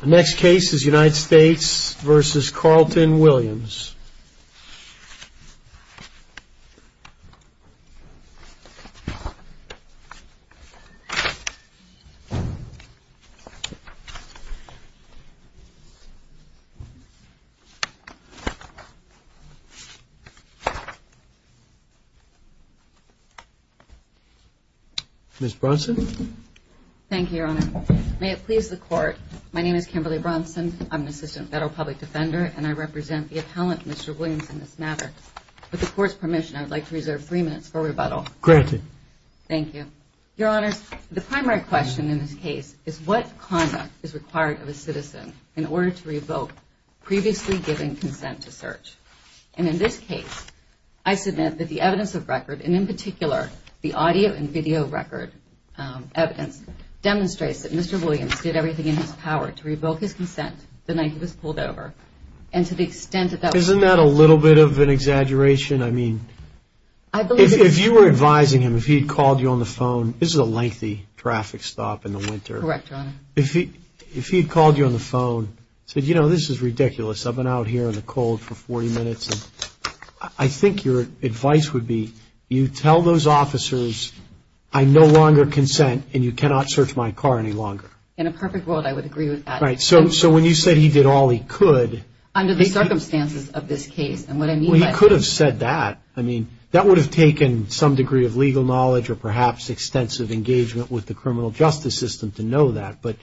The next case is United States v. Carlton Williams. Ms. Bronson. Thank you, Your Honor. May it please the Court, my name is Kimberly Bronson, I'm an assistant federal public defender, and I represent the appellant, Mr. Williams, in this matter. With the Court's permission, I would like to reserve three minutes for rebuttal. Granted. Thank you. Your Honor, the primary question in this case is what conduct is required of a citizen in order to revoke previously given consent to search. And in this case, I submit that the evidence of record, and in particular, the audio and video record evidence, demonstrates that Mr. Williams did everything in his power to revoke his consent the night he was pulled over. And to the extent that that... Isn't that a little bit of an exaggeration? I mean, if you were advising him, if he had called you on the phone, this is a lengthy traffic stop in the winter. Correct, Your Honor. If he had called you on the phone, said, you know, this is ridiculous, I've been out here in the cold for 40 minutes. I think your advice would be, you tell those officers, I no longer consent, and you cannot search my car any longer. In a perfect world, I would agree with that. Right. So when you said he did all he could... Under the circumstances of this case. Well, he could have said that. I mean, that would have taken some degree of legal knowledge or perhaps extensive engagement with the criminal justice system to know that. But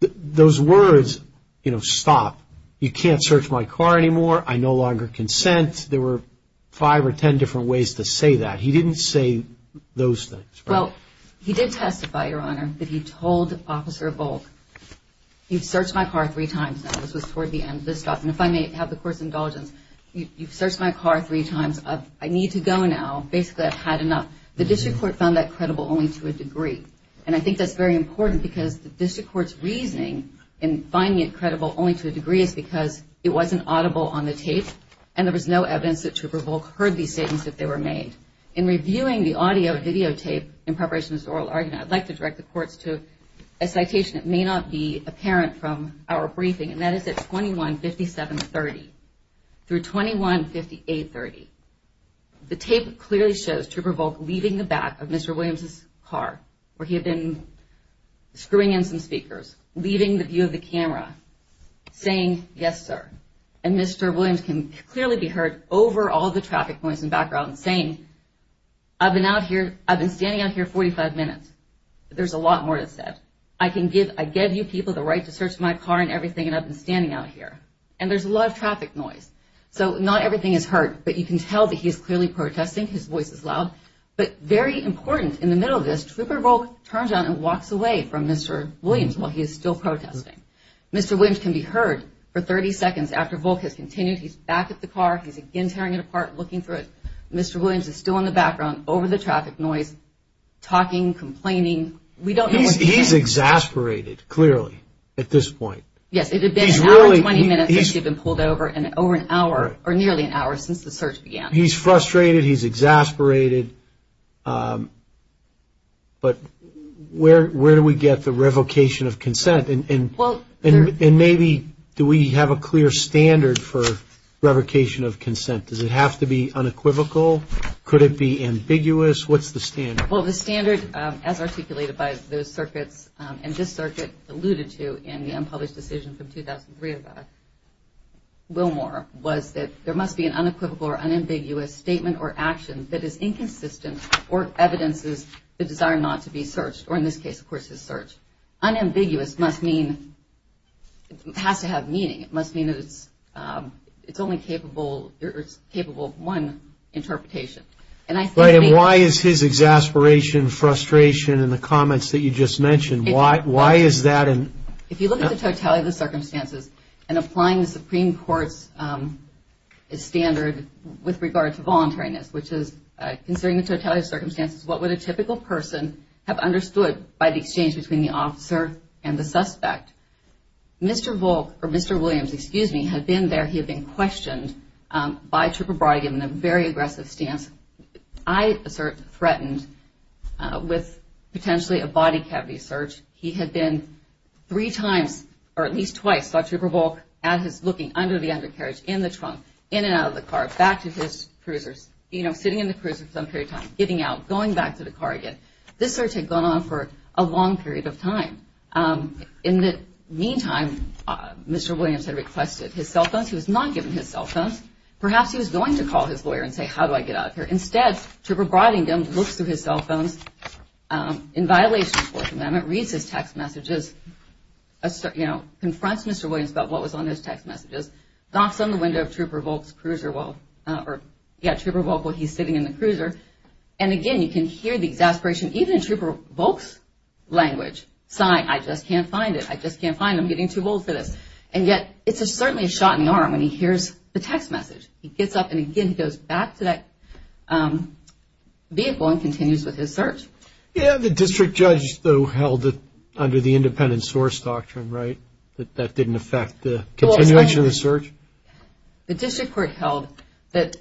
those words, you know, stop. You can't search my car anymore. I no longer consent. There were five or ten different ways to say that. He didn't say those things. Well, he did testify, Your Honor, that he told Officer Volk, you've searched my car three times now. And if I may have the court's indulgence, you've searched my car three times. I need to go now. Basically, I've had enough. The district court found that credible only to a degree. And I think that's very important because the district court's reasoning in finding it credible only to a degree is because it wasn't audible on the tape, and there was no evidence that Trooper Volk heard these statements if they were made. In reviewing the audio videotape in preparation for this oral argument, I'd like to direct the courts to a citation that may not be apparent from our briefing, and that is at 21-57-30 through 21-58-30. The tape clearly shows Trooper Volk leaving the back of Mr. Williams' car where he had been screwing in some speakers, leaving the view of the camera, saying, yes, sir. And Mr. Williams can clearly be heard over all the traffic points and background saying, I've been out here. I've been standing out here 45 minutes. There's a lot more to say. But I can give you people the right to search my car and everything, and I've been standing out here. And there's a lot of traffic noise. So not everything is heard, but you can tell that he is clearly protesting. His voice is loud. But very important, in the middle of this, Trooper Volk turns around and walks away from Mr. Williams while he is still protesting. Mr. Williams can be heard for 30 seconds after Volk has continued. He's back at the car. He's again tearing it apart, looking through it. Mr. Williams is still in the background over the traffic noise, talking, complaining. He's exasperated, clearly, at this point. Yes, it had been an hour and 20 minutes since he had been pulled over, and over an hour or nearly an hour since the search began. He's frustrated. He's exasperated. But where do we get the revocation of consent? And maybe do we have a clear standard for revocation of consent? Does it have to be unequivocal? Could it be ambiguous? What's the standard? Well, the standard, as articulated by those circuits, and this circuit alluded to in the unpublished decision from 2003 about Wilmore, was that there must be an unequivocal or unambiguous statement or action that is inconsistent or evidences the desire not to be searched, or in this case, of course, his search. Unambiguous must mean it has to have meaning. It must mean that it's only capable of one interpretation. And why is his exasperation, frustration, and the comments that you just mentioned, why is that? If you look at the totality of the circumstances and applying the Supreme Court's standard with regard to voluntariness, which is considering the totality of circumstances, what would a typical person have understood by the exchange between the officer and the suspect? Mr. Volk, or Mr. Williams, excuse me, had been there. Mr. Williams had been questioned by Trooper Brody, given a very aggressive stance. I assert threatened with potentially a body cavity search. He had been three times, or at least twice, saw Trooper Volk looking under the undercarriage, in the trunk, in and out of the car, back to his cruisers, you know, sitting in the cruiser for some period of time, getting out, going back to the car again. This search had gone on for a long period of time. In the meantime, Mr. Williams had requested his cell phones. He was not given his cell phones. Perhaps he was going to call his lawyer and say, how do I get out of here? Instead, Trooper Brodington looks through his cell phones. In violation of the Fourth Amendment, reads his text messages, confronts Mr. Williams about what was on his text messages, knocks on the window of Trooper Volk's cruiser while he's sitting in the cruiser. And again, you can hear the exasperation. Even in Trooper Volk's language, sighing, I just can't find it. I just can't find him. I'm getting too old for this. And yet, it's certainly a shot in the arm when he hears the text message. He gets up and, again, he goes back to that vehicle and continues with his search. Yeah, the district judge, though, held it under the independent source doctrine, right, that that didn't affect the continuation of the search? The district court held that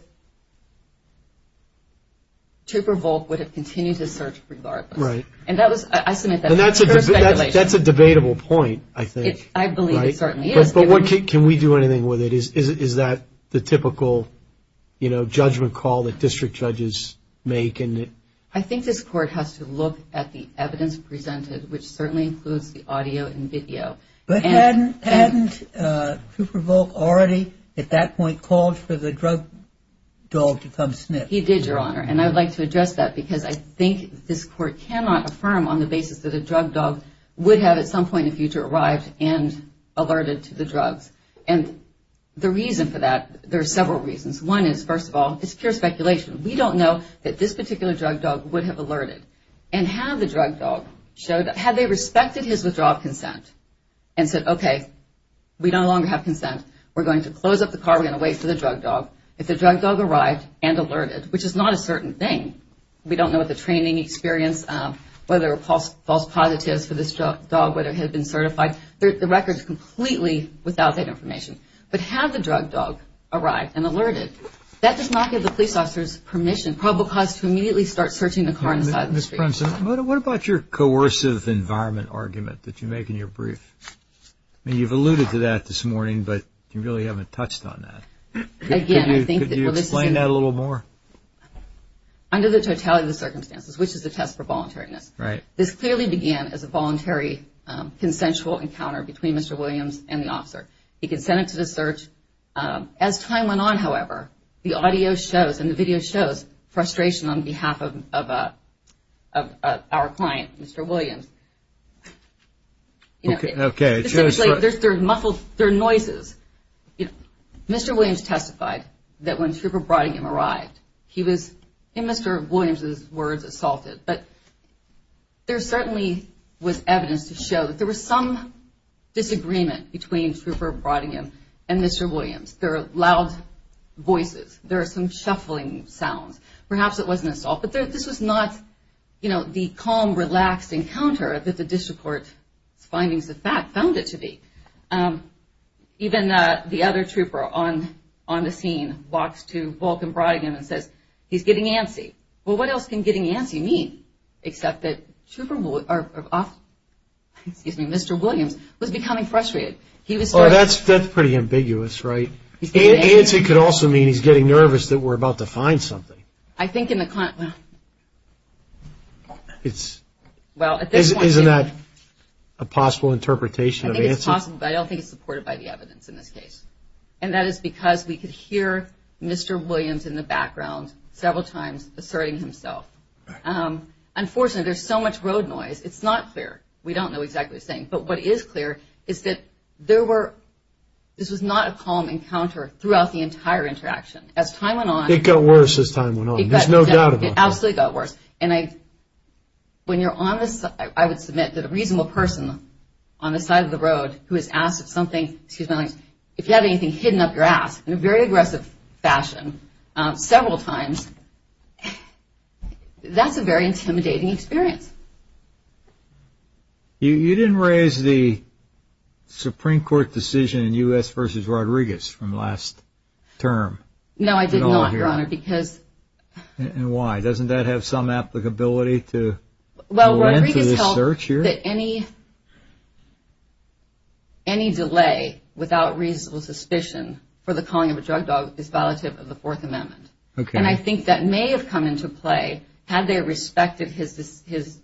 Trooper Volk would have continued his search regardless. Right. And that was – I submit that. And that's a debatable point, I think. I believe it certainly is. But can we do anything with it? Is that the typical, you know, judgment call that district judges make? I think this court has to look at the evidence presented, which certainly includes the audio and video. But hadn't Trooper Volk already at that point called for the drug dog to come sniff? He did, Your Honor. And I would like to address that because I think this court cannot affirm on the basis that a drug dog would have at some point in the future arrived and alerted to the drugs. And the reason for that, there are several reasons. One is, first of all, it's pure speculation. We don't know that this particular drug dog would have alerted. And had the drug dog showed – had they respected his withdrawal of consent and said, okay, we no longer have consent, we're going to close up the car, we're going to wait for the drug dog, if the drug dog arrived and alerted, which is not a certain thing. We don't know what the training experience, whether false positives for this dog, whether it had been certified. The record is completely without that information. But had the drug dog arrived and alerted, that does not give the police officers permission, and probable cause to immediately start searching the car on the side of the street. Ms. Prentz, what about your coercive environment argument that you make in your brief? I mean, you've alluded to that this morning, but you really haven't touched on that. Again, I think that – Could you explain that a little more? Under the totality of the circumstances, which is a test for voluntariness. Right. This clearly began as a voluntary consensual encounter between Mr. Williams and the officer. He consented to the search. As time went on, however, the audio shows and the video shows frustration on behalf of our client, Mr. Williams. Okay. There are noises. Mr. Williams testified that when Trooper Brodingham arrived, he was, in Mr. Williams' words, assaulted. But there certainly was evidence to show that there was some disagreement between Trooper Brodingham and Mr. Williams. There are loud voices. There are some shuffling sounds. Perhaps it wasn't assault, but this was not the calm, relaxed encounter that the district court's findings of fact found it to be. Even the other trooper on the scene walks to Volcom Brodingham and says, he's getting antsy. Well, what else can getting antsy mean? Except that Mr. Williams was becoming frustrated. Oh, that's pretty ambiguous, right? Antsy could also mean he's getting nervous that we're about to find something. I think in the client, well. Isn't that a possible interpretation of antsy? I think it's possible, but I don't think it's supported by the evidence in this case. And that is because we could hear Mr. Williams in the background several times asserting himself. Unfortunately, there's so much road noise, it's not clear. We don't know exactly what he's saying. But what is clear is that there were, this was not a calm encounter throughout the entire interaction. As time went on. It got worse as time went on. There's no doubt about that. It absolutely got worse. And I, when you're on this, I would submit that a reasonable person on the side of the road who is asked if something, excuse my language, if you have anything hidden up your ass, in a very aggressive fashion, several times, that's a very intimidating experience. You didn't raise the Supreme Court decision in U.S. v. Rodriguez from last term. No, I did not, Your Honor, because. And why? Doesn't that have some applicability to go into this search here? Well, Rodriguez held that any delay without reasonable suspicion for the calling of a drug dog is violative of the Fourth Amendment. Okay. And I think that may have come into play had they respected his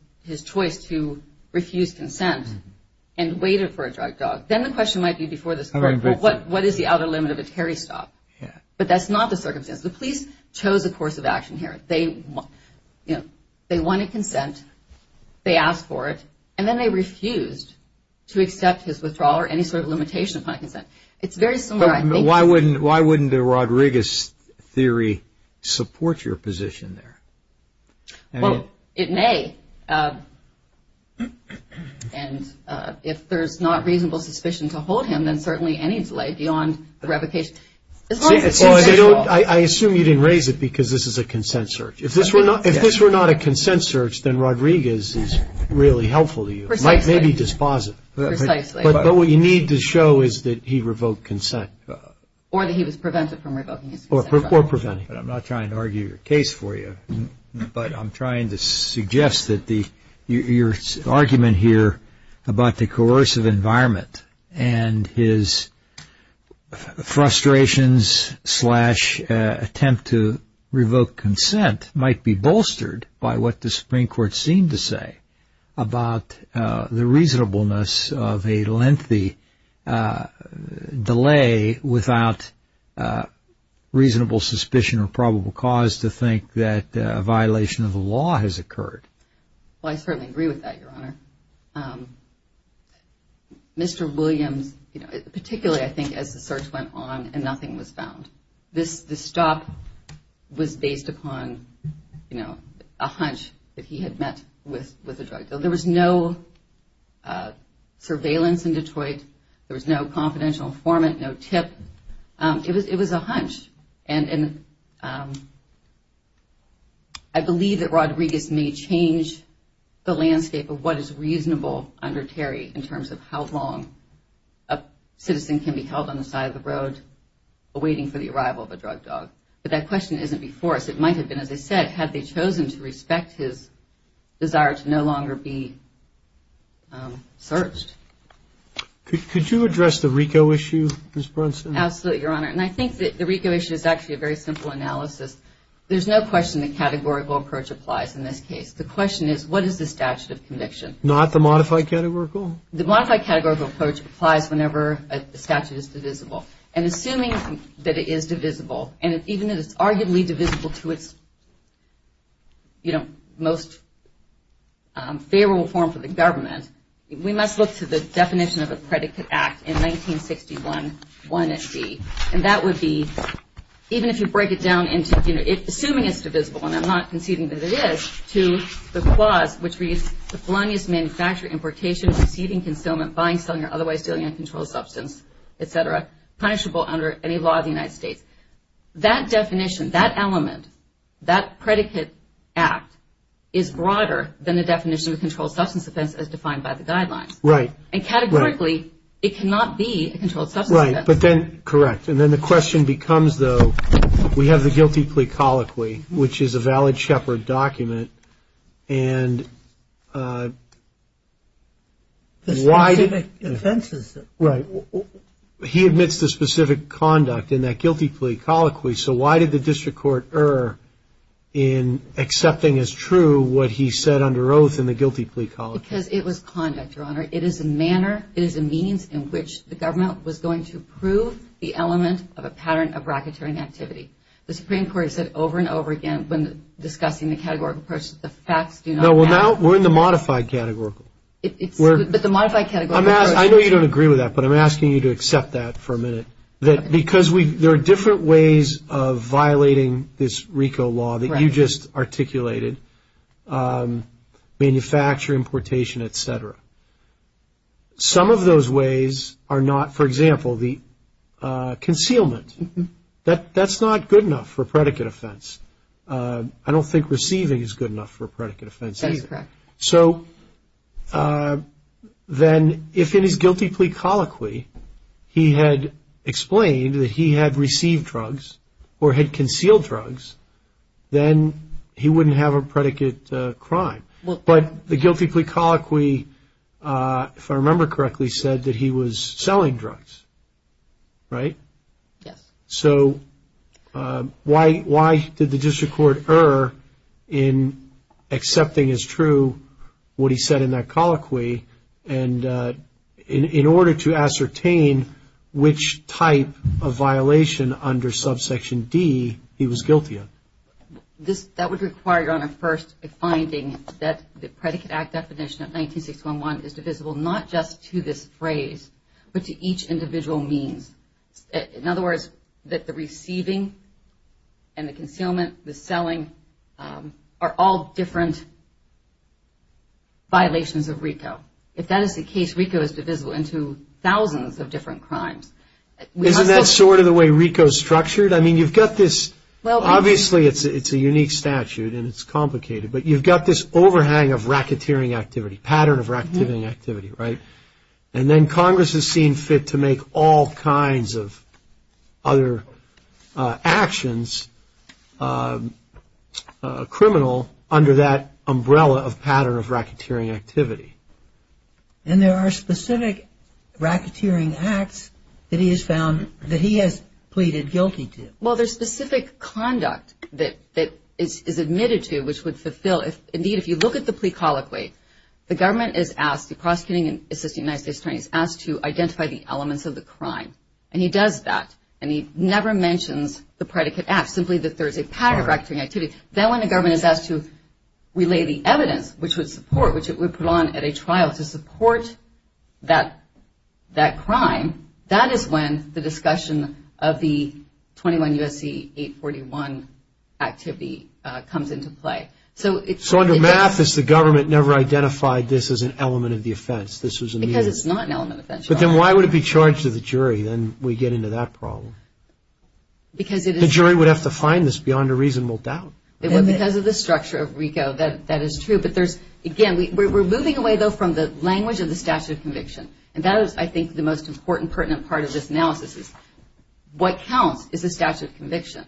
choice to refuse consent and waited for a drug dog. Then the question might be before this Court, what is the outer limit of a Terry stop? But that's not the circumstance. The police chose a course of action here. They wanted consent. They asked for it. And then they refused to accept his withdrawal or any sort of limitation upon consent. It's very similar, I think. Why wouldn't a Rodriguez theory support your position there? Well, it may. And if there's not reasonable suspicion to hold him, then certainly any delay beyond the revocation. I assume you didn't raise it because this is a consent search. If this were not a consent search, then Rodriguez is really helpful to you. Precisely. It might maybe dispositive. Precisely. But what you need to show is that he revoked consent. Or that he was prevented from revoking his consent. Or preventing. I'm not trying to argue your case for you, but I'm trying to suggest that your argument here about the coercive environment and his frustrations slash attempt to revoke consent about the reasonableness of a lengthy delay without reasonable suspicion or probable cause to think that a violation of the law has occurred. Well, I certainly agree with that, Your Honor. Mr. Williams, particularly I think as the search went on and nothing was found, this stop was based upon a hunch that he had met with a drug dealer. There was no surveillance in Detroit. There was no confidential informant, no tip. It was a hunch. And I believe that Rodriguez may change the landscape of what is reasonable under Terry in terms of how long a citizen can be held on the side of the road awaiting for the arrival of a drug dog. But that question isn't before us. It might have been, as I said, had they chosen to respect his desire to no longer be searched. Could you address the RICO issue, Ms. Brunson? Absolutely, Your Honor. And I think that the RICO issue is actually a very simple analysis. There's no question the categorical approach applies in this case. The question is what is the statute of conviction? Not the modified categorical? The modified categorical approach applies whenever a statute is divisible. And assuming that it is divisible, and even if it's arguably divisible to its, you know, most favorable form for the government, we must look to the definition of a predicate act in 1961-1-SB. And that would be, even if you break it down into, you know, assuming it's divisible, and I'm not conceding that it is, to the clause which reads, the felonious manufacturer, importation, receiving, concealment, buying, selling, or otherwise stealing uncontrolled substance, et cetera, punishable under any law of the United States. That definition, that element, that predicate act, is broader than the definition of a controlled substance offense as defined by the guidelines. Right. And categorically, it cannot be a controlled substance offense. Right. But then, correct. And then the question becomes, though, we have the guilty plea colloquy, which is a valid Shepard document, and why did... The specific offenses. Right. He admits the specific conduct in that guilty plea colloquy, so why did the district court err in accepting as true what he said under oath in the guilty plea colloquy? Because it was conduct, Your Honor. It is a manner, it is a means in which the government was going to prove the element of a pattern of bracketing activity. The Supreme Court has said over and over again when discussing the categorical approach that the facts do not matter. No, well, now we're in the modified categorical. But the modified categorical approach... I know you don't agree with that, but I'm asking you to accept that for a minute. Because there are different ways of violating this RICO law that you just articulated, manufacture, importation, et cetera. Some of those ways are not, for example, the concealment. That's not good enough for a predicate offense. I don't think receiving is good enough for a predicate offense, is it? That is correct. So then if in his guilty plea colloquy he had explained that he had received drugs or had concealed drugs, then he wouldn't have a predicate crime. But the guilty plea colloquy, if I remember correctly, said that he was selling drugs, right? Yes. So why did the district court err in accepting as true what he said in that colloquy? And in order to ascertain which type of violation under subsection D he was guilty of. That would require, Your Honor, first a finding that the Predicate Act definition of 19611 is divisible not just to this phrase, but to each individual means. In other words, that the receiving and the concealment, the selling are all different violations of RICO. If that is the case, RICO is divisible into thousands of different crimes. Isn't that sort of the way RICO is structured? I mean, you've got this, obviously it's a unique statute and it's complicated, but you've got this overhang of racketeering activity, pattern of racketeering activity, right? And then Congress has seen fit to make all kinds of other actions criminal under that umbrella of pattern of racketeering activity. And there are specific racketeering acts that he has found that he has pleaded guilty to? Well, there's specific conduct that is admitted to which would fulfill. Indeed, if you look at the plea colloquy, the government is asked, the prosecuting and assisting United States attorney is asked to identify the elements of the crime. And he does that. And he never mentions the Predicate Act, simply that there's a pattern of racketeering activity. Then when the government is asked to relay the evidence, which would support, which it would put on at a trial to support that crime, that is when the discussion of the 21 U.S.C. 841 activity comes into play. So under math is the government never identified this as an element of the offense? Because it's not an element of the offense. But then why would it be charged to the jury? Then we get into that problem. Because it is. The jury would have to find this beyond a reasonable doubt. Because of the structure of RICO, that is true. But there's, again, we're moving away, though, from the language of the statute of conviction. And that is, I think, the most important pertinent part of this analysis is what counts is the statute of conviction.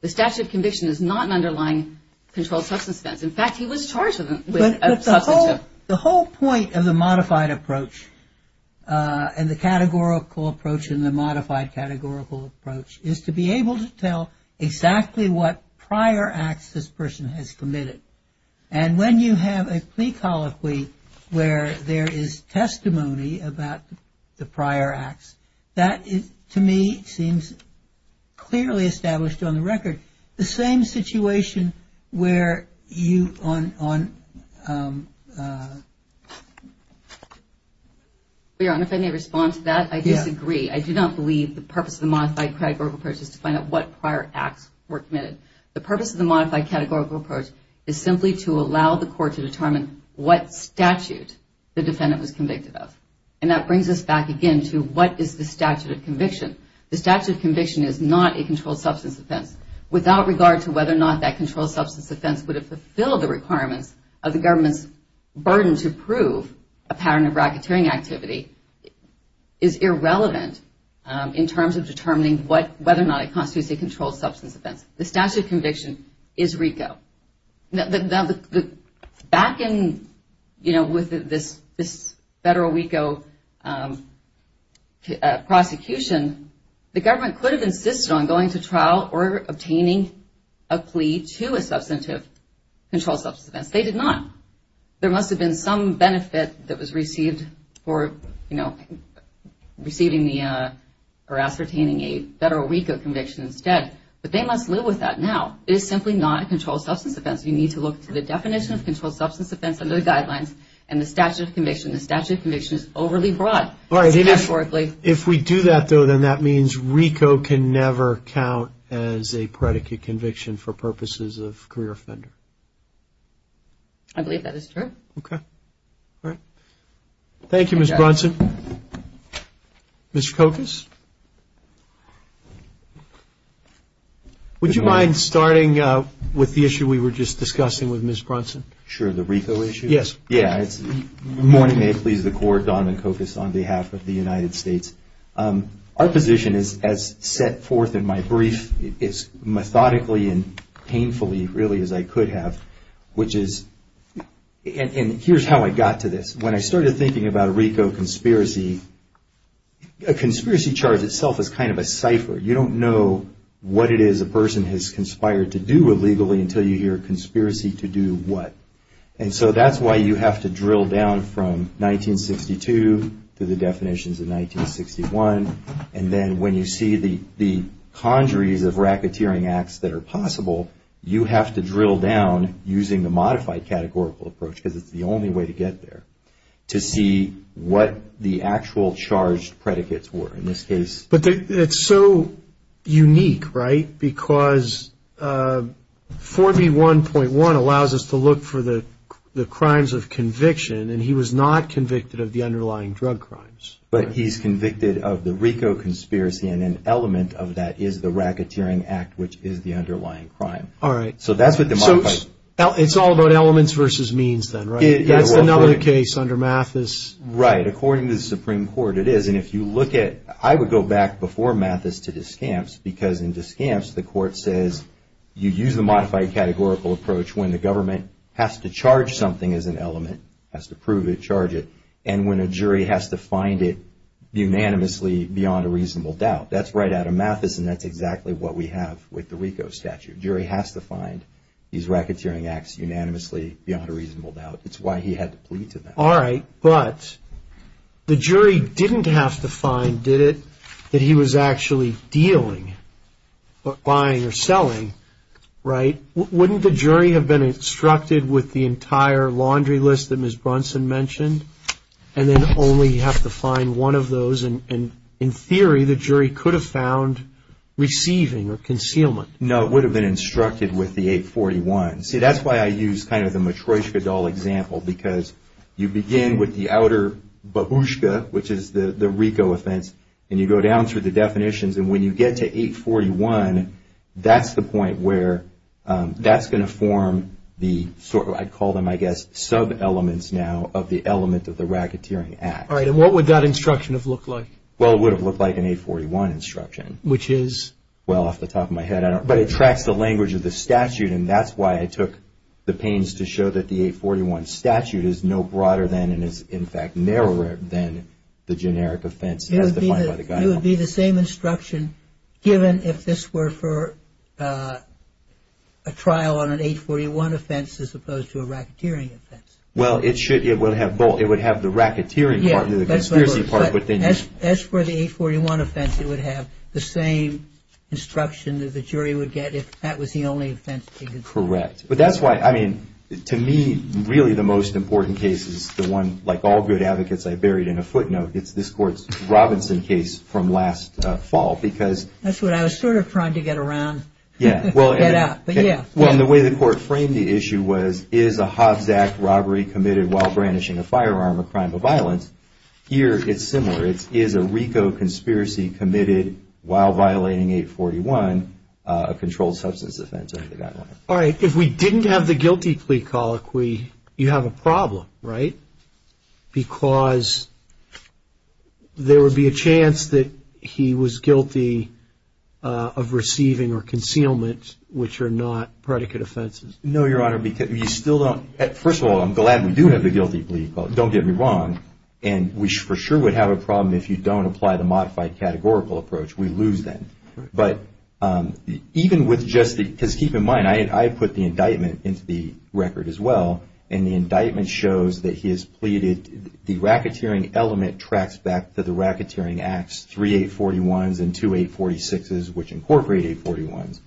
The statute of conviction is not an underlying controlled substance offense. In fact, he was charged with a substance offense. But the whole point of the modified approach and the categorical approach and the modified categorical approach is to be able to tell exactly what prior acts this person has committed. And when you have a plea colloquy where there is testimony about the prior acts, that is, to me, seems clearly established on the record. The same situation where you on. If I may respond to that, I disagree. I do not believe the purpose of the modified categorical approach is to find out what prior acts were committed. The purpose of the modified categorical approach is simply to allow the court to determine what statute the defendant was convicted of. And that brings us back again to what is the statute of conviction. The statute of conviction is not a controlled substance offense. Without regard to whether or not that controlled substance offense would have fulfilled the requirements of the government's burden to prove a pattern of racketeering activity is irrelevant in terms of determining whether or not it constitutes a controlled substance offense. The statute of conviction is RICO. Now, back in, you know, with this federal RICO prosecution, the government could have insisted on going to trial or obtaining a plea to a substantive controlled substance offense. They did not. There must have been some benefit that was received for, you know, receiving the or ascertaining a federal RICO conviction instead. But they must live with that now. It is simply not a controlled substance offense. You need to look to the definition of controlled substance offense under the guidelines and the statute of conviction. The statute of conviction is overly broad. All right. If we do that, though, then that means RICO can never count as a predicate conviction for purposes of career offender. I believe that is true. Okay. All right. Thank you, Ms. Brunson. Ms. Kokas. Would you mind starting with the issue we were just discussing with Ms. Brunson? Sure. The RICO issue? Yes. Yeah. Good morning. May it please the Court. Don McKokas on behalf of the United States. Our position is as set forth in my brief, as methodically and painfully really as I could have, which is, and here's how I got to this. When I started thinking about RICO conspiracy, a conspiracy charge itself is kind of a cipher. You don't know what it is a person has conspired to do illegally until you hear conspiracy to do what. And so that's why you have to drill down from 1962 to the definitions of 1961. And then when you see the conjuries of racketeering acts that are possible, you have to drill down using the modified categorical approach because it's the only way to get there, to see what the actual charged predicates were in this case. But it's so unique, right, because 4B1.1 allows us to look for the crimes of conviction and he was not convicted of the underlying drug crimes. But he's convicted of the RICO conspiracy and an element of that is the racketeering act, which is the underlying crime. All right. So that's what the modified... So it's all about elements versus means then, right? That's another case under Mathis. Right. According to the Supreme Court it is. And if you look at, I would go back before Mathis to Descamps because in Descamps the Court says you use the modified categorical approach when the government has to charge something as an element, has to prove it, charge it, and when a jury has to find it unanimously beyond a reasonable doubt. That's right out of Mathis and that's exactly what we have with the RICO statute. Jury has to find these racketeering acts unanimously beyond a reasonable doubt. It's why he had to plead to them. All right. But the jury didn't have to find, did it, that he was actually dealing or buying or selling, right? Wouldn't the jury have been instructed with the entire laundry list that Ms. Brunson mentioned and then only have to find one of those? And in theory the jury could have found receiving or concealment. No, it would have been instructed with the 841. See, that's why I use kind of the Matryoshka doll example because you begin with the outer babushka, which is the RICO offense, and you go down through the definitions. And when you get to 841, that's the point where that's going to form the sort of, I call them, I guess, sub-elements now of the element of the racketeering act. All right. And what would that instruction have looked like? Well, it would have looked like an 841 instruction. Which is? Well, off the top of my head, I don't know, but it tracks the language of the statute and that's why I took the pains to show that the 841 statute is no broader than and is in fact narrower than the generic offense as defined by the guidelines. And it would be the same instruction given if this were for a trial on an 841 offense as opposed to a racketeering offense? Well, it should. It would have both. It would have the racketeering part and the conspiracy part. As for the 841 offense, it would have the same instruction that the jury would get if that was the only offense they could see. Correct. But that's why, I mean, to me, really the most important case is the one, like all good advocates, I buried in a footnote. It's this court's Robinson case from last fall because. That's what I was sort of trying to get around. Yeah. Well, and the way the court framed the issue was, is a Hobbs Act robbery committed while brandishing a firearm a crime of violence? Here, it's similar. Is a RICO conspiracy committed while violating 841 a controlled substance offense under the guidelines? All right. If we didn't have the guilty plea colloquy, you have a problem, right? Because there would be a chance that he was guilty of receiving or concealment, which are not predicate offenses. No, Your Honor, because you still don't. First of all, I'm glad we do have the guilty plea colloquy. Don't get me wrong. And we for sure would have a problem if you don't apply the modified categorical approach. We lose then. But even with just the – because keep in mind, I put the indictment into the record as well, and the indictment shows that he has pleaded. The racketeering element tracks back to the racketeering acts 3841s and 2846s, which incorporate 841s.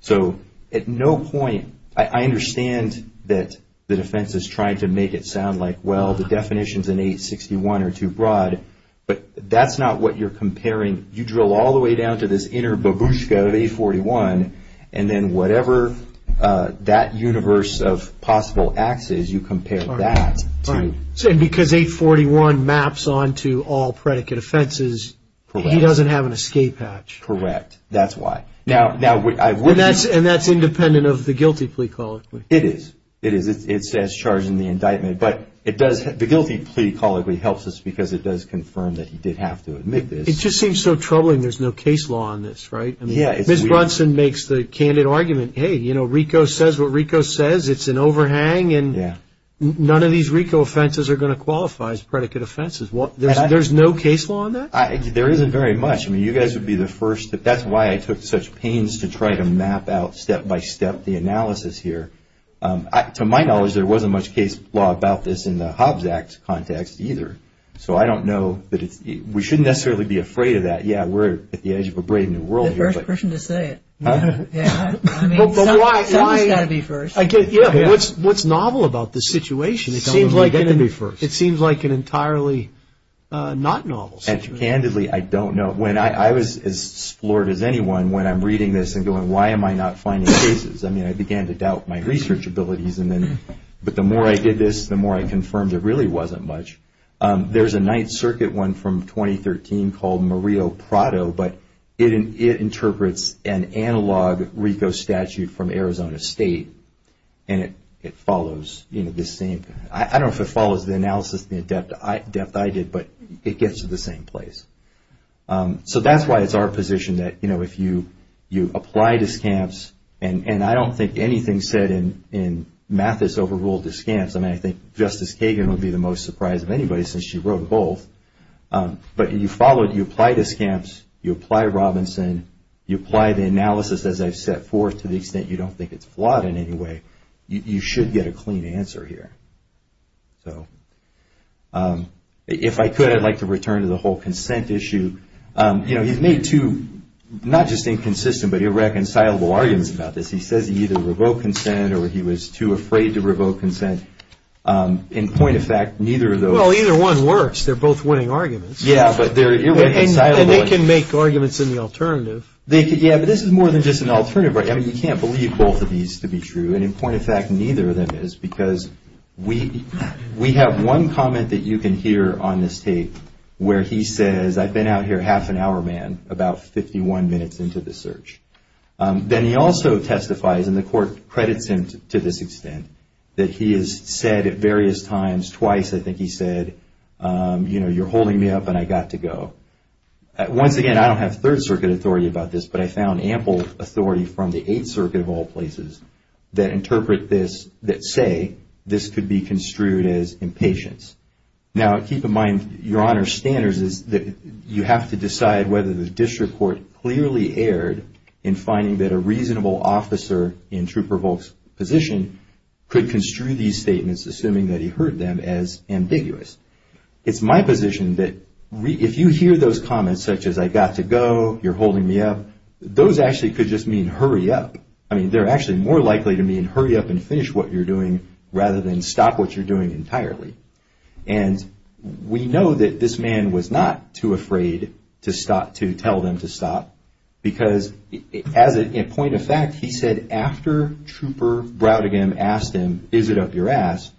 So at no point – I understand that the defense is trying to make it sound like, well, the definition's in 861 or too broad, but that's not what you're comparing. You drill all the way down to this inner babushka of 841, and then whatever that universe of possible acts is, you compare that to – And because 841 maps onto all predicate offenses, he doesn't have an escape hatch. Correct. That's why. And that's independent of the guilty plea colloquy. It is. It is. It's as charged in the indictment. But it does – the guilty plea colloquy helps us because it does confirm that he did have to admit this. It just seems so troubling there's no case law on this, right? Ms. Brunson makes the candid argument, hey, you know, RICO says what RICO says. It's an overhang, and none of these RICO offenses are going to qualify as predicate offenses. There's no case law on that? There isn't very much. I mean, you guys would be the first. That's why I took such pains to try to map out step by step the analysis here. To my knowledge, there wasn't much case law about this in the Hobbs Act context either. So I don't know that it's – we shouldn't necessarily be afraid of that. Yeah, we're at the edge of a brave new world here. You're the first person to say it. I mean, someone's got to be first. Yeah, but what's novel about this situation? It seems like an entirely not novel situation. And candidly, I don't know. When I was as floored as anyone when I'm reading this and going, why am I not finding cases? I mean, I began to doubt my research abilities. But the more I did this, the more I confirmed it really wasn't much. There's a Ninth Circuit one from 2013 called Murillo-Prado, but it interprets an analog RICO statute from Arizona State. And it follows this same – I don't know if it follows the analysis, the depth I did, but it gets to the same place. So that's why it's our position that if you apply discounts, and I don't think anything's said in math that's overruled discounts. I mean, I think Justice Kagan would be the most surprised of anybody since she wrote both. But you follow it, you apply discounts, you apply Robinson, you apply the analysis as I've set forth to the extent you don't think it's flawed in any way, you should get a clean answer here. If I could, I'd like to return to the whole consent issue. You know, he's made two not just inconsistent but irreconcilable arguments about this. He says he either revoked consent or he was too afraid to revoke consent. In point of fact, neither of those – Well, either one works. They're both winning arguments. Yeah, but they're irreconcilable. And they can make arguments in the alternative. Yeah, but this is more than just an alternative. I mean, you can't believe both of these to be true. And in point of fact, neither of them is because we have one comment that you can hear on this tape where he says, I've been out here half an hour, man, about 51 minutes into the search. Then he also testifies, and the court credits him to this extent, that he has said at various times, twice I think he said, you know, you're holding me up and I got to go. Once again, I don't have Third Circuit authority about this, but I found ample authority from the Eighth Circuit of all places that interpret this, that say this could be construed as impatience. Now, keep in mind, Your Honor's standards is that you have to decide whether the district court clearly erred in finding that a reasonable officer in Trooper Volk's position could construe these statements, assuming that he heard them, as ambiguous. It's my position that if you hear those comments, such as I got to go, you're holding me up, those actually could just mean hurry up. I mean, they're actually more likely to mean hurry up and finish what you're doing rather than stop what you're doing entirely. And we know that this man was not too afraid to tell them to stop, because as a point of fact, he said after Trooper Browdingham asked him, is it up your ass,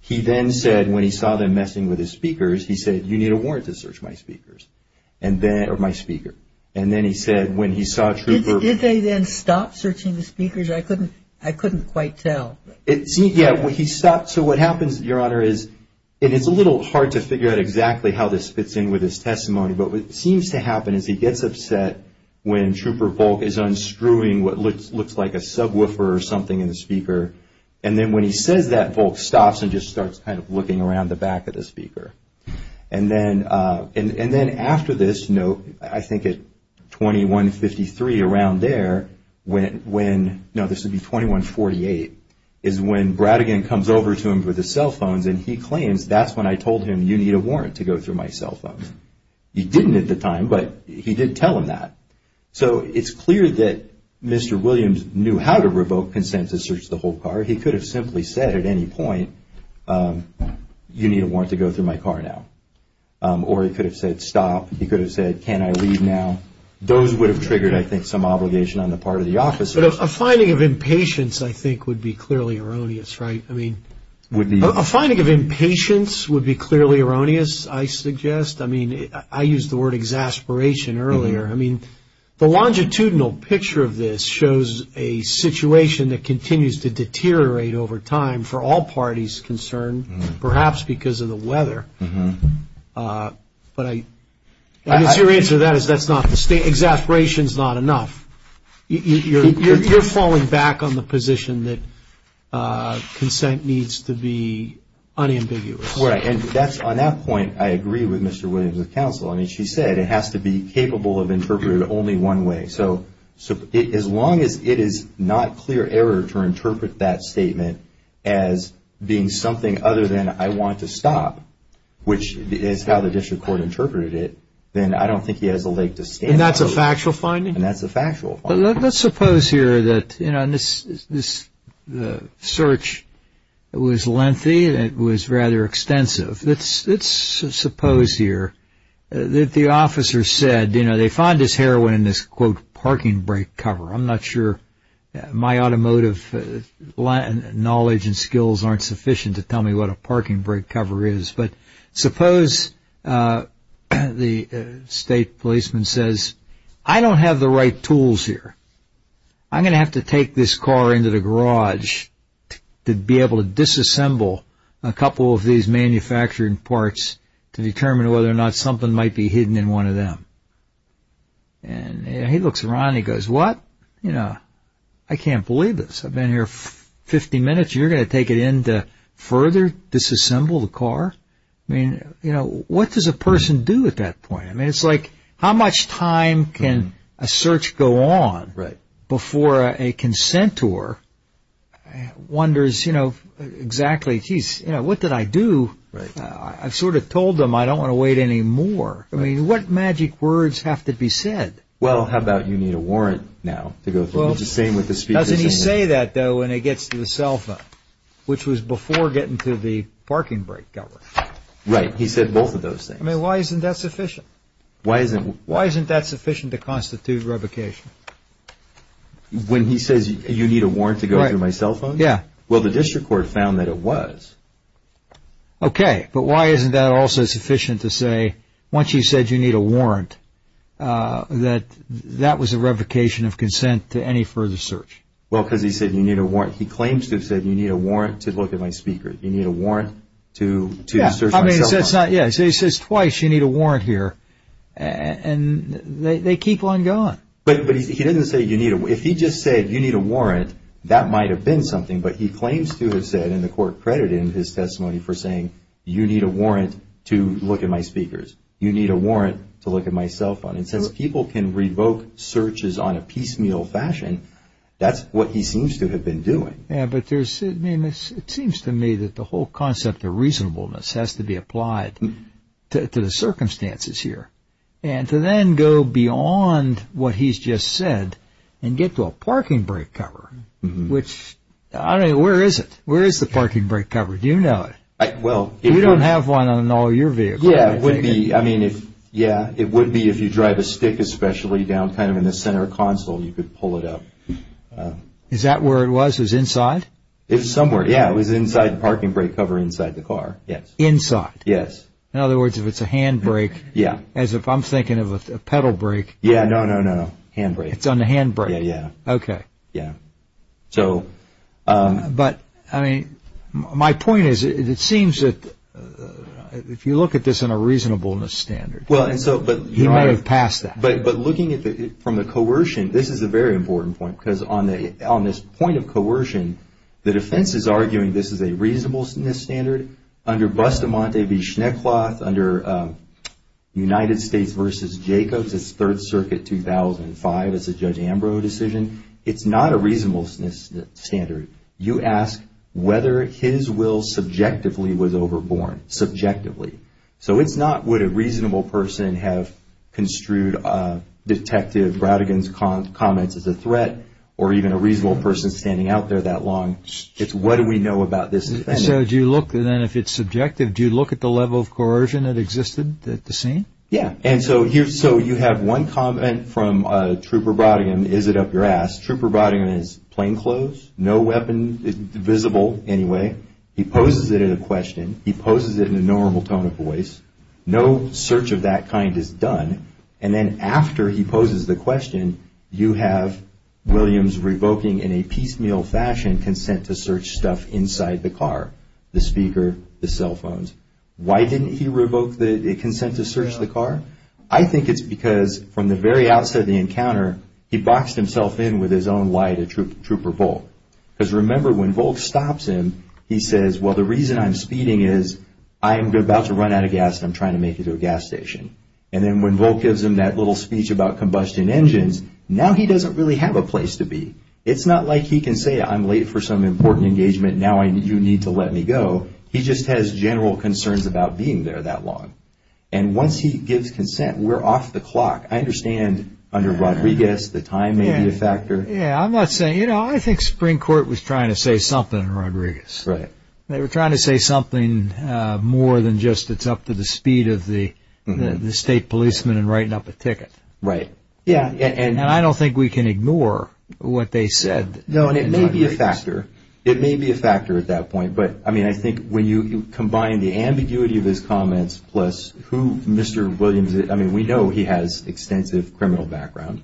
he then said when he saw them messing with his speakers, he said, you need a warrant to search my speakers, or my speaker. And then he said when he saw Trooper... Did they then stop searching the speakers? I couldn't quite tell. Yeah, he stopped. So what happens, Your Honor, is it's a little hard to figure out exactly how this fits in with his testimony, but what seems to happen is he gets upset when Trooper Volk is unscrewing what looks like a subwoofer or something in the speaker, and then when he says that, Volk stops and just starts kind of looking around the back of the speaker. And then after this, I think at 2153, around there, when... No, this would be 2148, is when Browdingham comes over to him with his cell phones, and he claims that's when I told him, you need a warrant to go through my cell phones. He didn't at the time, but he did tell him that. So it's clear that Mr. Williams knew how to revoke consent to search the whole car. Or he could have simply said at any point, you need a warrant to go through my car now. Or he could have said, stop. He could have said, can I leave now? Those would have triggered, I think, some obligation on the part of the officers. But a finding of impatience, I think, would be clearly erroneous, right? I mean, a finding of impatience would be clearly erroneous, I suggest. I mean, I used the word exasperation earlier. I mean, the longitudinal picture of this shows a situation that continues to deteriorate over time for all parties concerned, perhaps because of the weather. But I guess your answer to that is that's not the state. Exasperation is not enough. You're falling back on the position that consent needs to be unambiguous. Right. And on that point, I agree with Mr. Williams' counsel. I mean, she said it has to be capable of interpreting it only one way. So as long as it is not clear error to interpret that statement as being something other than I want to stop, which is how the district court interpreted it, then I don't think he has a leg to stand on. And that's a factual finding? And that's a factual finding. But let's suppose here that this search was lengthy and it was rather extensive. Let's suppose here that the officer said, you know, they found this heroin in this, quote, parking brake cover. I'm not sure my automotive knowledge and skills aren't sufficient to tell me what a parking brake cover is. But suppose the state policeman says, I don't have the right tools here. I'm going to have to take this car into the garage to be able to disassemble a couple of these manufactured parts to determine whether or not something might be hidden in one of them. And he looks around and he goes, what? You know, I can't believe this. I've been here 50 minutes. You're going to take it in to further disassemble the car? I mean, you know, what does a person do at that point? I mean, it's like how much time can a search go on before a consentor wonders, you know, exactly, geez, you know, what did I do? I've sort of told them I don't want to wait any more. I mean, what magic words have to be said? Well, how about you need a warrant now to go through? It's the same with the speech. Doesn't he say that, though, when he gets to the cell phone, which was before getting to the parking brake cover? Right. He said both of those things. I mean, why isn't that sufficient? Why isn't that sufficient to constitute revocation? When he says you need a warrant to go through my cell phone? Yeah. Well, the district court found that it was. Okay. But why isn't that also sufficient to say once he said you need a warrant that that was a revocation of consent to any further search? Well, because he said you need a warrant. He claims to have said you need a warrant to look at my speaker. You need a warrant to search my cell phone. So he says twice you need a warrant here. And they keep on going. But he didn't say you need a warrant. If he just said you need a warrant, that might have been something. But he claims to have said, and the court credited him in his testimony for saying you need a warrant to look at my speakers. You need a warrant to look at my cell phone. And since people can revoke searches on a piecemeal fashion, that's what he seems to have been doing. Yeah, but it seems to me that the whole concept of reasonableness has to be applied to the circumstances here. And to then go beyond what he's just said and get to a parking brake cover, which, I don't know, where is it? Where is the parking brake cover? Do you know it? We don't have one on all your vehicles. Yeah, it would be if you drive a stick especially down kind of in the center console, you could pull it up. Is that where it was? It was inside? It was somewhere, yeah. It was inside the parking brake cover inside the car, yes. Inside? Yes. In other words, if it's a handbrake, as if I'm thinking of a pedal brake. Yeah, no, no, no. Handbrake. It's on the handbrake. Yeah, yeah. Okay. Yeah. But, I mean, my point is it seems that if you look at this in a reasonableness standard, you might have passed that. But looking from the coercion, this is a very important point because on this point of coercion, the defense is arguing this is a reasonableness standard. Under Bustamante v. Schneckloth, under United States v. Jacobs, it's Third Circuit 2005. It's a Judge Ambrose decision. It's not a reasonableness standard. You ask whether his will subjectively was overborne, subjectively. So it's not would a reasonable person have construed Detective Brattigan's comments as a threat or even a reasonable person standing out there that long. It's what do we know about this defendant. So do you look, then, if it's subjective, do you look at the level of coercion that existed at the scene? Yeah. And so you have one comment from Trooper Brattigan, is it up your ass. Trooper Brattigan is plainclothes, no weapon visible anyway. He poses it in a question. He poses it in a normal tone of voice. No search of that kind is done. And then after he poses the question, you have Williams revoking in a piecemeal fashion consent to search stuff inside the car, the speaker, the cell phones. Why didn't he revoke the consent to search the car? I think it's because from the very outset of the encounter, he boxed himself in with his own lie to Trooper Volk. Because remember, when Volk stops him, he says, well, the reason I'm speeding is I'm about to run out of gas and I'm trying to make it to a gas station. And then when Volk gives him that little speech about combustion engines, now he doesn't really have a place to be. It's not like he can say I'm late for some important engagement, now you need to let me go. He just has general concerns about being there that long. And once he gives consent, we're off the clock. I understand under Rodriguez the time may be a factor. Yeah, I'm not saying, you know, I think Spring Court was trying to say something in Rodriguez. Right. They were trying to say something more than just it's up to the speed of the state policeman in writing up a ticket. Right. And I don't think we can ignore what they said. No, and it may be a factor. It may be a factor at that point. But, I mean, I think when you combine the ambiguity of his comments plus who Mr. Williams is, I mean, we know he has extensive criminal background.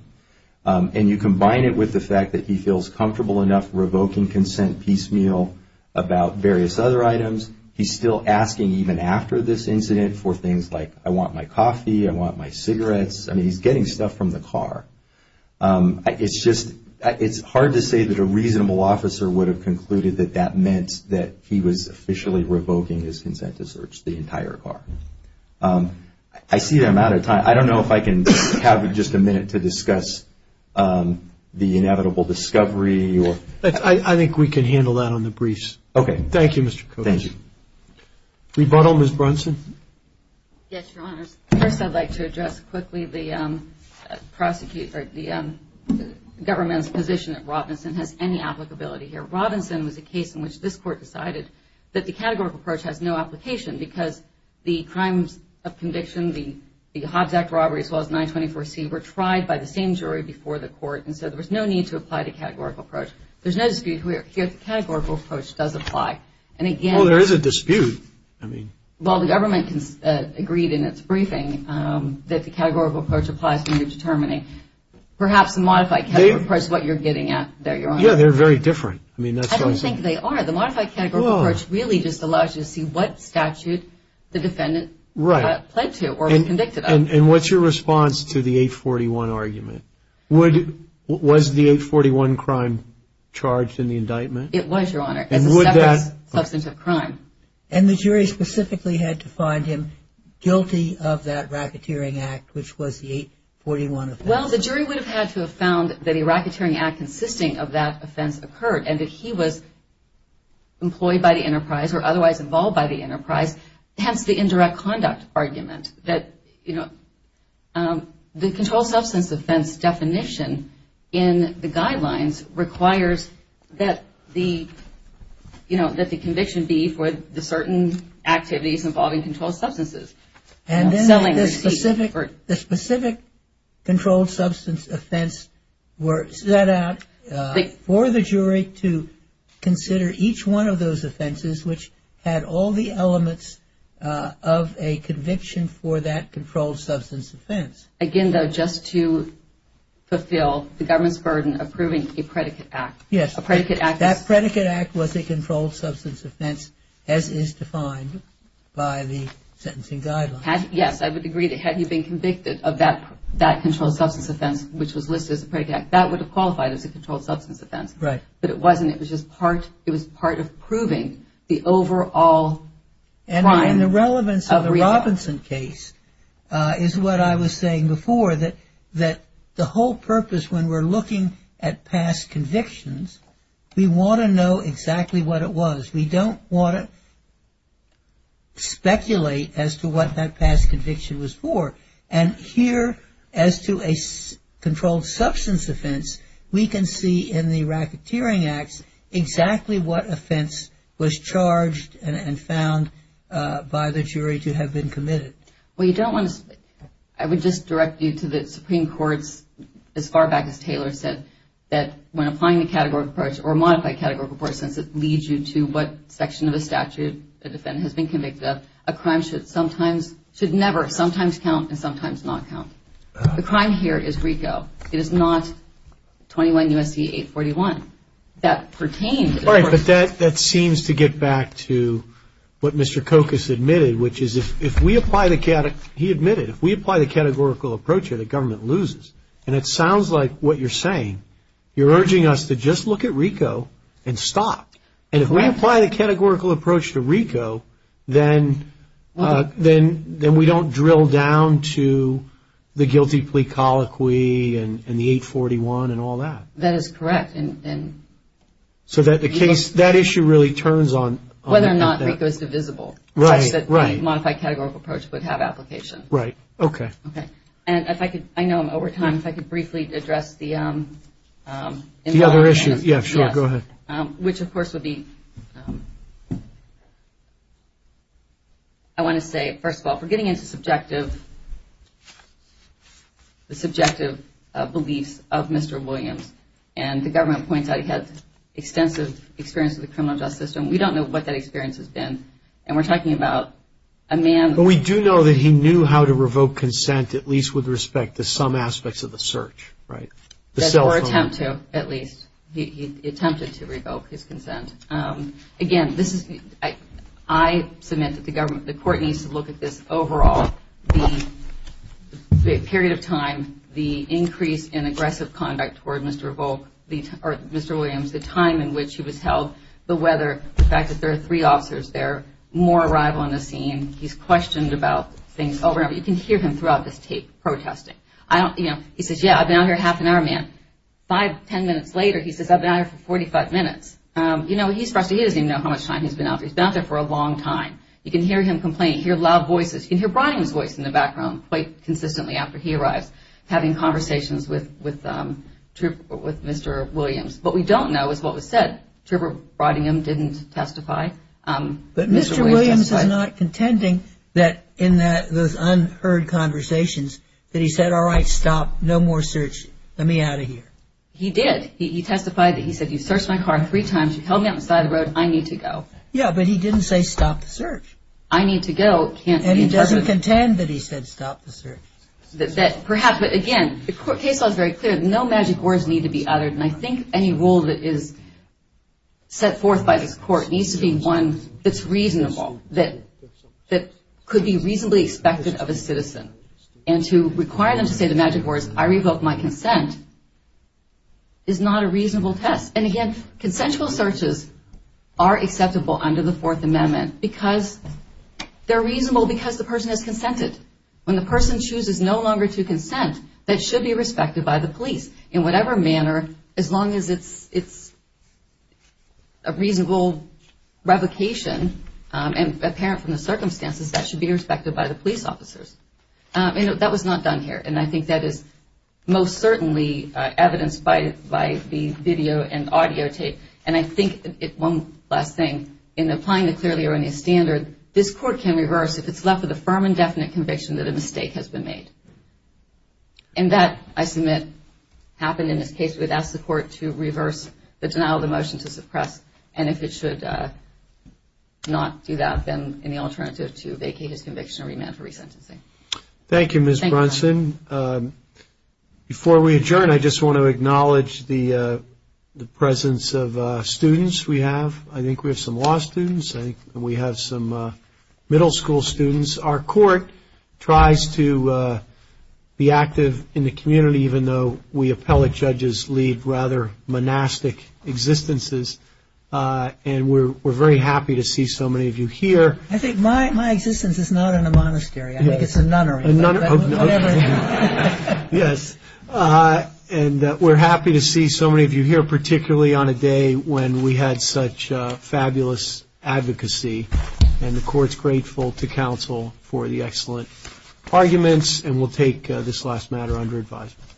And you combine it with the fact that he feels comfortable enough revoking consent piecemeal about various other items, he's still asking even after this incident for things like I want my coffee, I want my cigarettes. I mean, he's getting stuff from the car. It's just, it's hard to say that a reasonable officer would have concluded that that meant that he was officially revoking his consent to search the entire car. I see I'm out of time. I don't know if I can have just a minute to discuss the inevitable discovery. I think we can handle that on the briefs. Okay. Thank you, Mr. Coates. Thank you. Rebuttal, Ms. Brunson. Yes, Your Honors. First I'd like to address quickly the government's position that Robinson has any applicability here. Robinson was a case in which this court decided that the categorical approach has no application because the crimes of conviction, the Hobbs Act robberies, as well as 924C, were tried by the same jury before the court, and so there was no need to apply the categorical approach. There's no dispute here. The categorical approach does apply. Oh, there is a dispute. Well, the government agreed in its briefing that the categorical approach applies when you're determining. Perhaps the modified categorical approach is what you're getting at there, Your Honor. Yeah, they're very different. I don't think they are. The modified categorical approach really just allows you to see what statute the defendant pled to or was convicted of. And what's your response to the 841 argument? Was the 841 crime charged in the indictment? It was, Your Honor. As a separate substance of crime. And the jury specifically had to find him guilty of that racketeering act, which was the 841 offense? Well, the jury would have had to have found that a racketeering act consisting of that offense occurred and that he was employed by the enterprise or otherwise involved by the enterprise. Hence, the indirect conduct argument that, you know, the controlled substance offense definition in the guidelines requires that the, you know, that the conviction be for the certain activities involving controlled substances. And then the specific controlled substance offense were set out for the jury to consider each one of those offenses, which had all the elements of a conviction for that controlled substance offense. Again, though, just to fulfill the government's burden of proving a predicate act. Yes. A predicate act. That predicate act was a controlled substance offense, as is defined by the sentencing guidelines. Yes, I would agree that had he been convicted of that controlled substance offense, which was listed as a predicate act, that would have qualified as a controlled substance offense. Right. But it wasn't. It was just part of proving the overall crime. And the relevance of the Robinson case is what I was saying before, that the whole purpose when we're looking at past convictions, we want to know exactly what it was. We don't want to speculate as to what that past conviction was for. And here, as to a controlled substance offense, we can see in the racketeering acts exactly what offense was charged and found by the jury to have been committed. I would just direct you to the Supreme Court's, as far back as Taylor said, that when applying the categorical approach or modified categorical approach, since it leads you to what section of the statute the defendant has been convicted of, a crime should never sometimes count and sometimes not count. The crime here is RICO. It is not 21 U.S.C. 841. That pertains. Right, but that seems to get back to what Mr. Kokas admitted, which is if we apply the categorical approach here, the government loses. And it sounds like what you're saying, you're urging us to just look at RICO and stop. And if we apply the categorical approach to RICO, then we don't drill down to the guilty plea colloquy and the 841 and all that. That is correct. So that issue really turns on the defendant. RICO is divisible, such that the modified categorical approach would have application. Right, okay. Okay. And if I could, I know I'm over time, if I could briefly address the other issue. Yeah, sure, go ahead. Which, of course, would be, I want to say, first of all, we're getting into the subjective beliefs of Mr. Williams. And the government points out he had extensive experience with the criminal justice system. We don't know what that experience has been. And we're talking about a man. Well, we do know that he knew how to revoke consent, at least with respect to some aspects of the search, right, the cell phone. Or attempt to, at least. He attempted to revoke his consent. Again, I submit that the court needs to look at this overall, the period of time, the increase in aggressive conduct toward Mr. Williams, the time in which he was held, the weather, the fact that there are three officers there, more arrival on the scene, he's questioned about things. Oh, remember, you can hear him throughout this tape protesting. He says, yeah, I've been out here a half an hour, man. Five, ten minutes later, he says, I've been out here for 45 minutes. You know, he's frustrated. He doesn't even know how much time he's been out there. He's been out there for a long time. You can hear him complaining. You can hear loud voices. You can hear Brian's voice in the background quite consistently after he arrives, having conversations with Mr. Williams. What we don't know is what was said. Trevor Brottingham didn't testify. But Mr. Williams is not contending that in those unheard conversations that he said, all right, stop. No more search. Let me out of here. He did. He testified that he said, you searched my car three times. You held me on the side of the road. I need to go. Yeah, but he didn't say stop the search. I need to go. And he doesn't contend that he said stop the search. Perhaps. But, again, the case law is very clear. No magic words need to be uttered. And I think any rule that is set forth by this court needs to be one that's reasonable, that could be reasonably expected of a citizen. And to require them to say the magic words, I revoke my consent, is not a reasonable test. And, again, consensual searches are acceptable under the Fourth Amendment because they're reasonable because the person has consented. When the person chooses no longer to consent, that should be respected by the police in whatever manner, as long as it's a reasonable revocation and apparent from the circumstances, that should be respected by the police officers. And that was not done here. And I think that is most certainly evidenced by the video and audio tape. And I think, one last thing, in applying the clearly erroneous standard, this court can reverse if it's left with a firm and definite conviction that a mistake has been made. And that, I submit, happened in this case. We've asked the court to reverse the denial of the motion to suppress. And if it should not do that, then any alternative to vacate his conviction or remand for resentencing. Thank you, Ms. Brunson. Before we adjourn, I just want to acknowledge the presence of students we have. I think we have some law students. I think we have some middle school students. Our court tries to be active in the community, even though we appellate judges lead rather monastic existences. And we're very happy to see so many of you here. I think my existence is not in a monastery. I think it's a nunnery. Yes. And we're happy to see so many of you here, particularly on a day when we had such fabulous advocacy. And the court's grateful to counsel for the excellent arguments. And we'll take this last matter under advisement.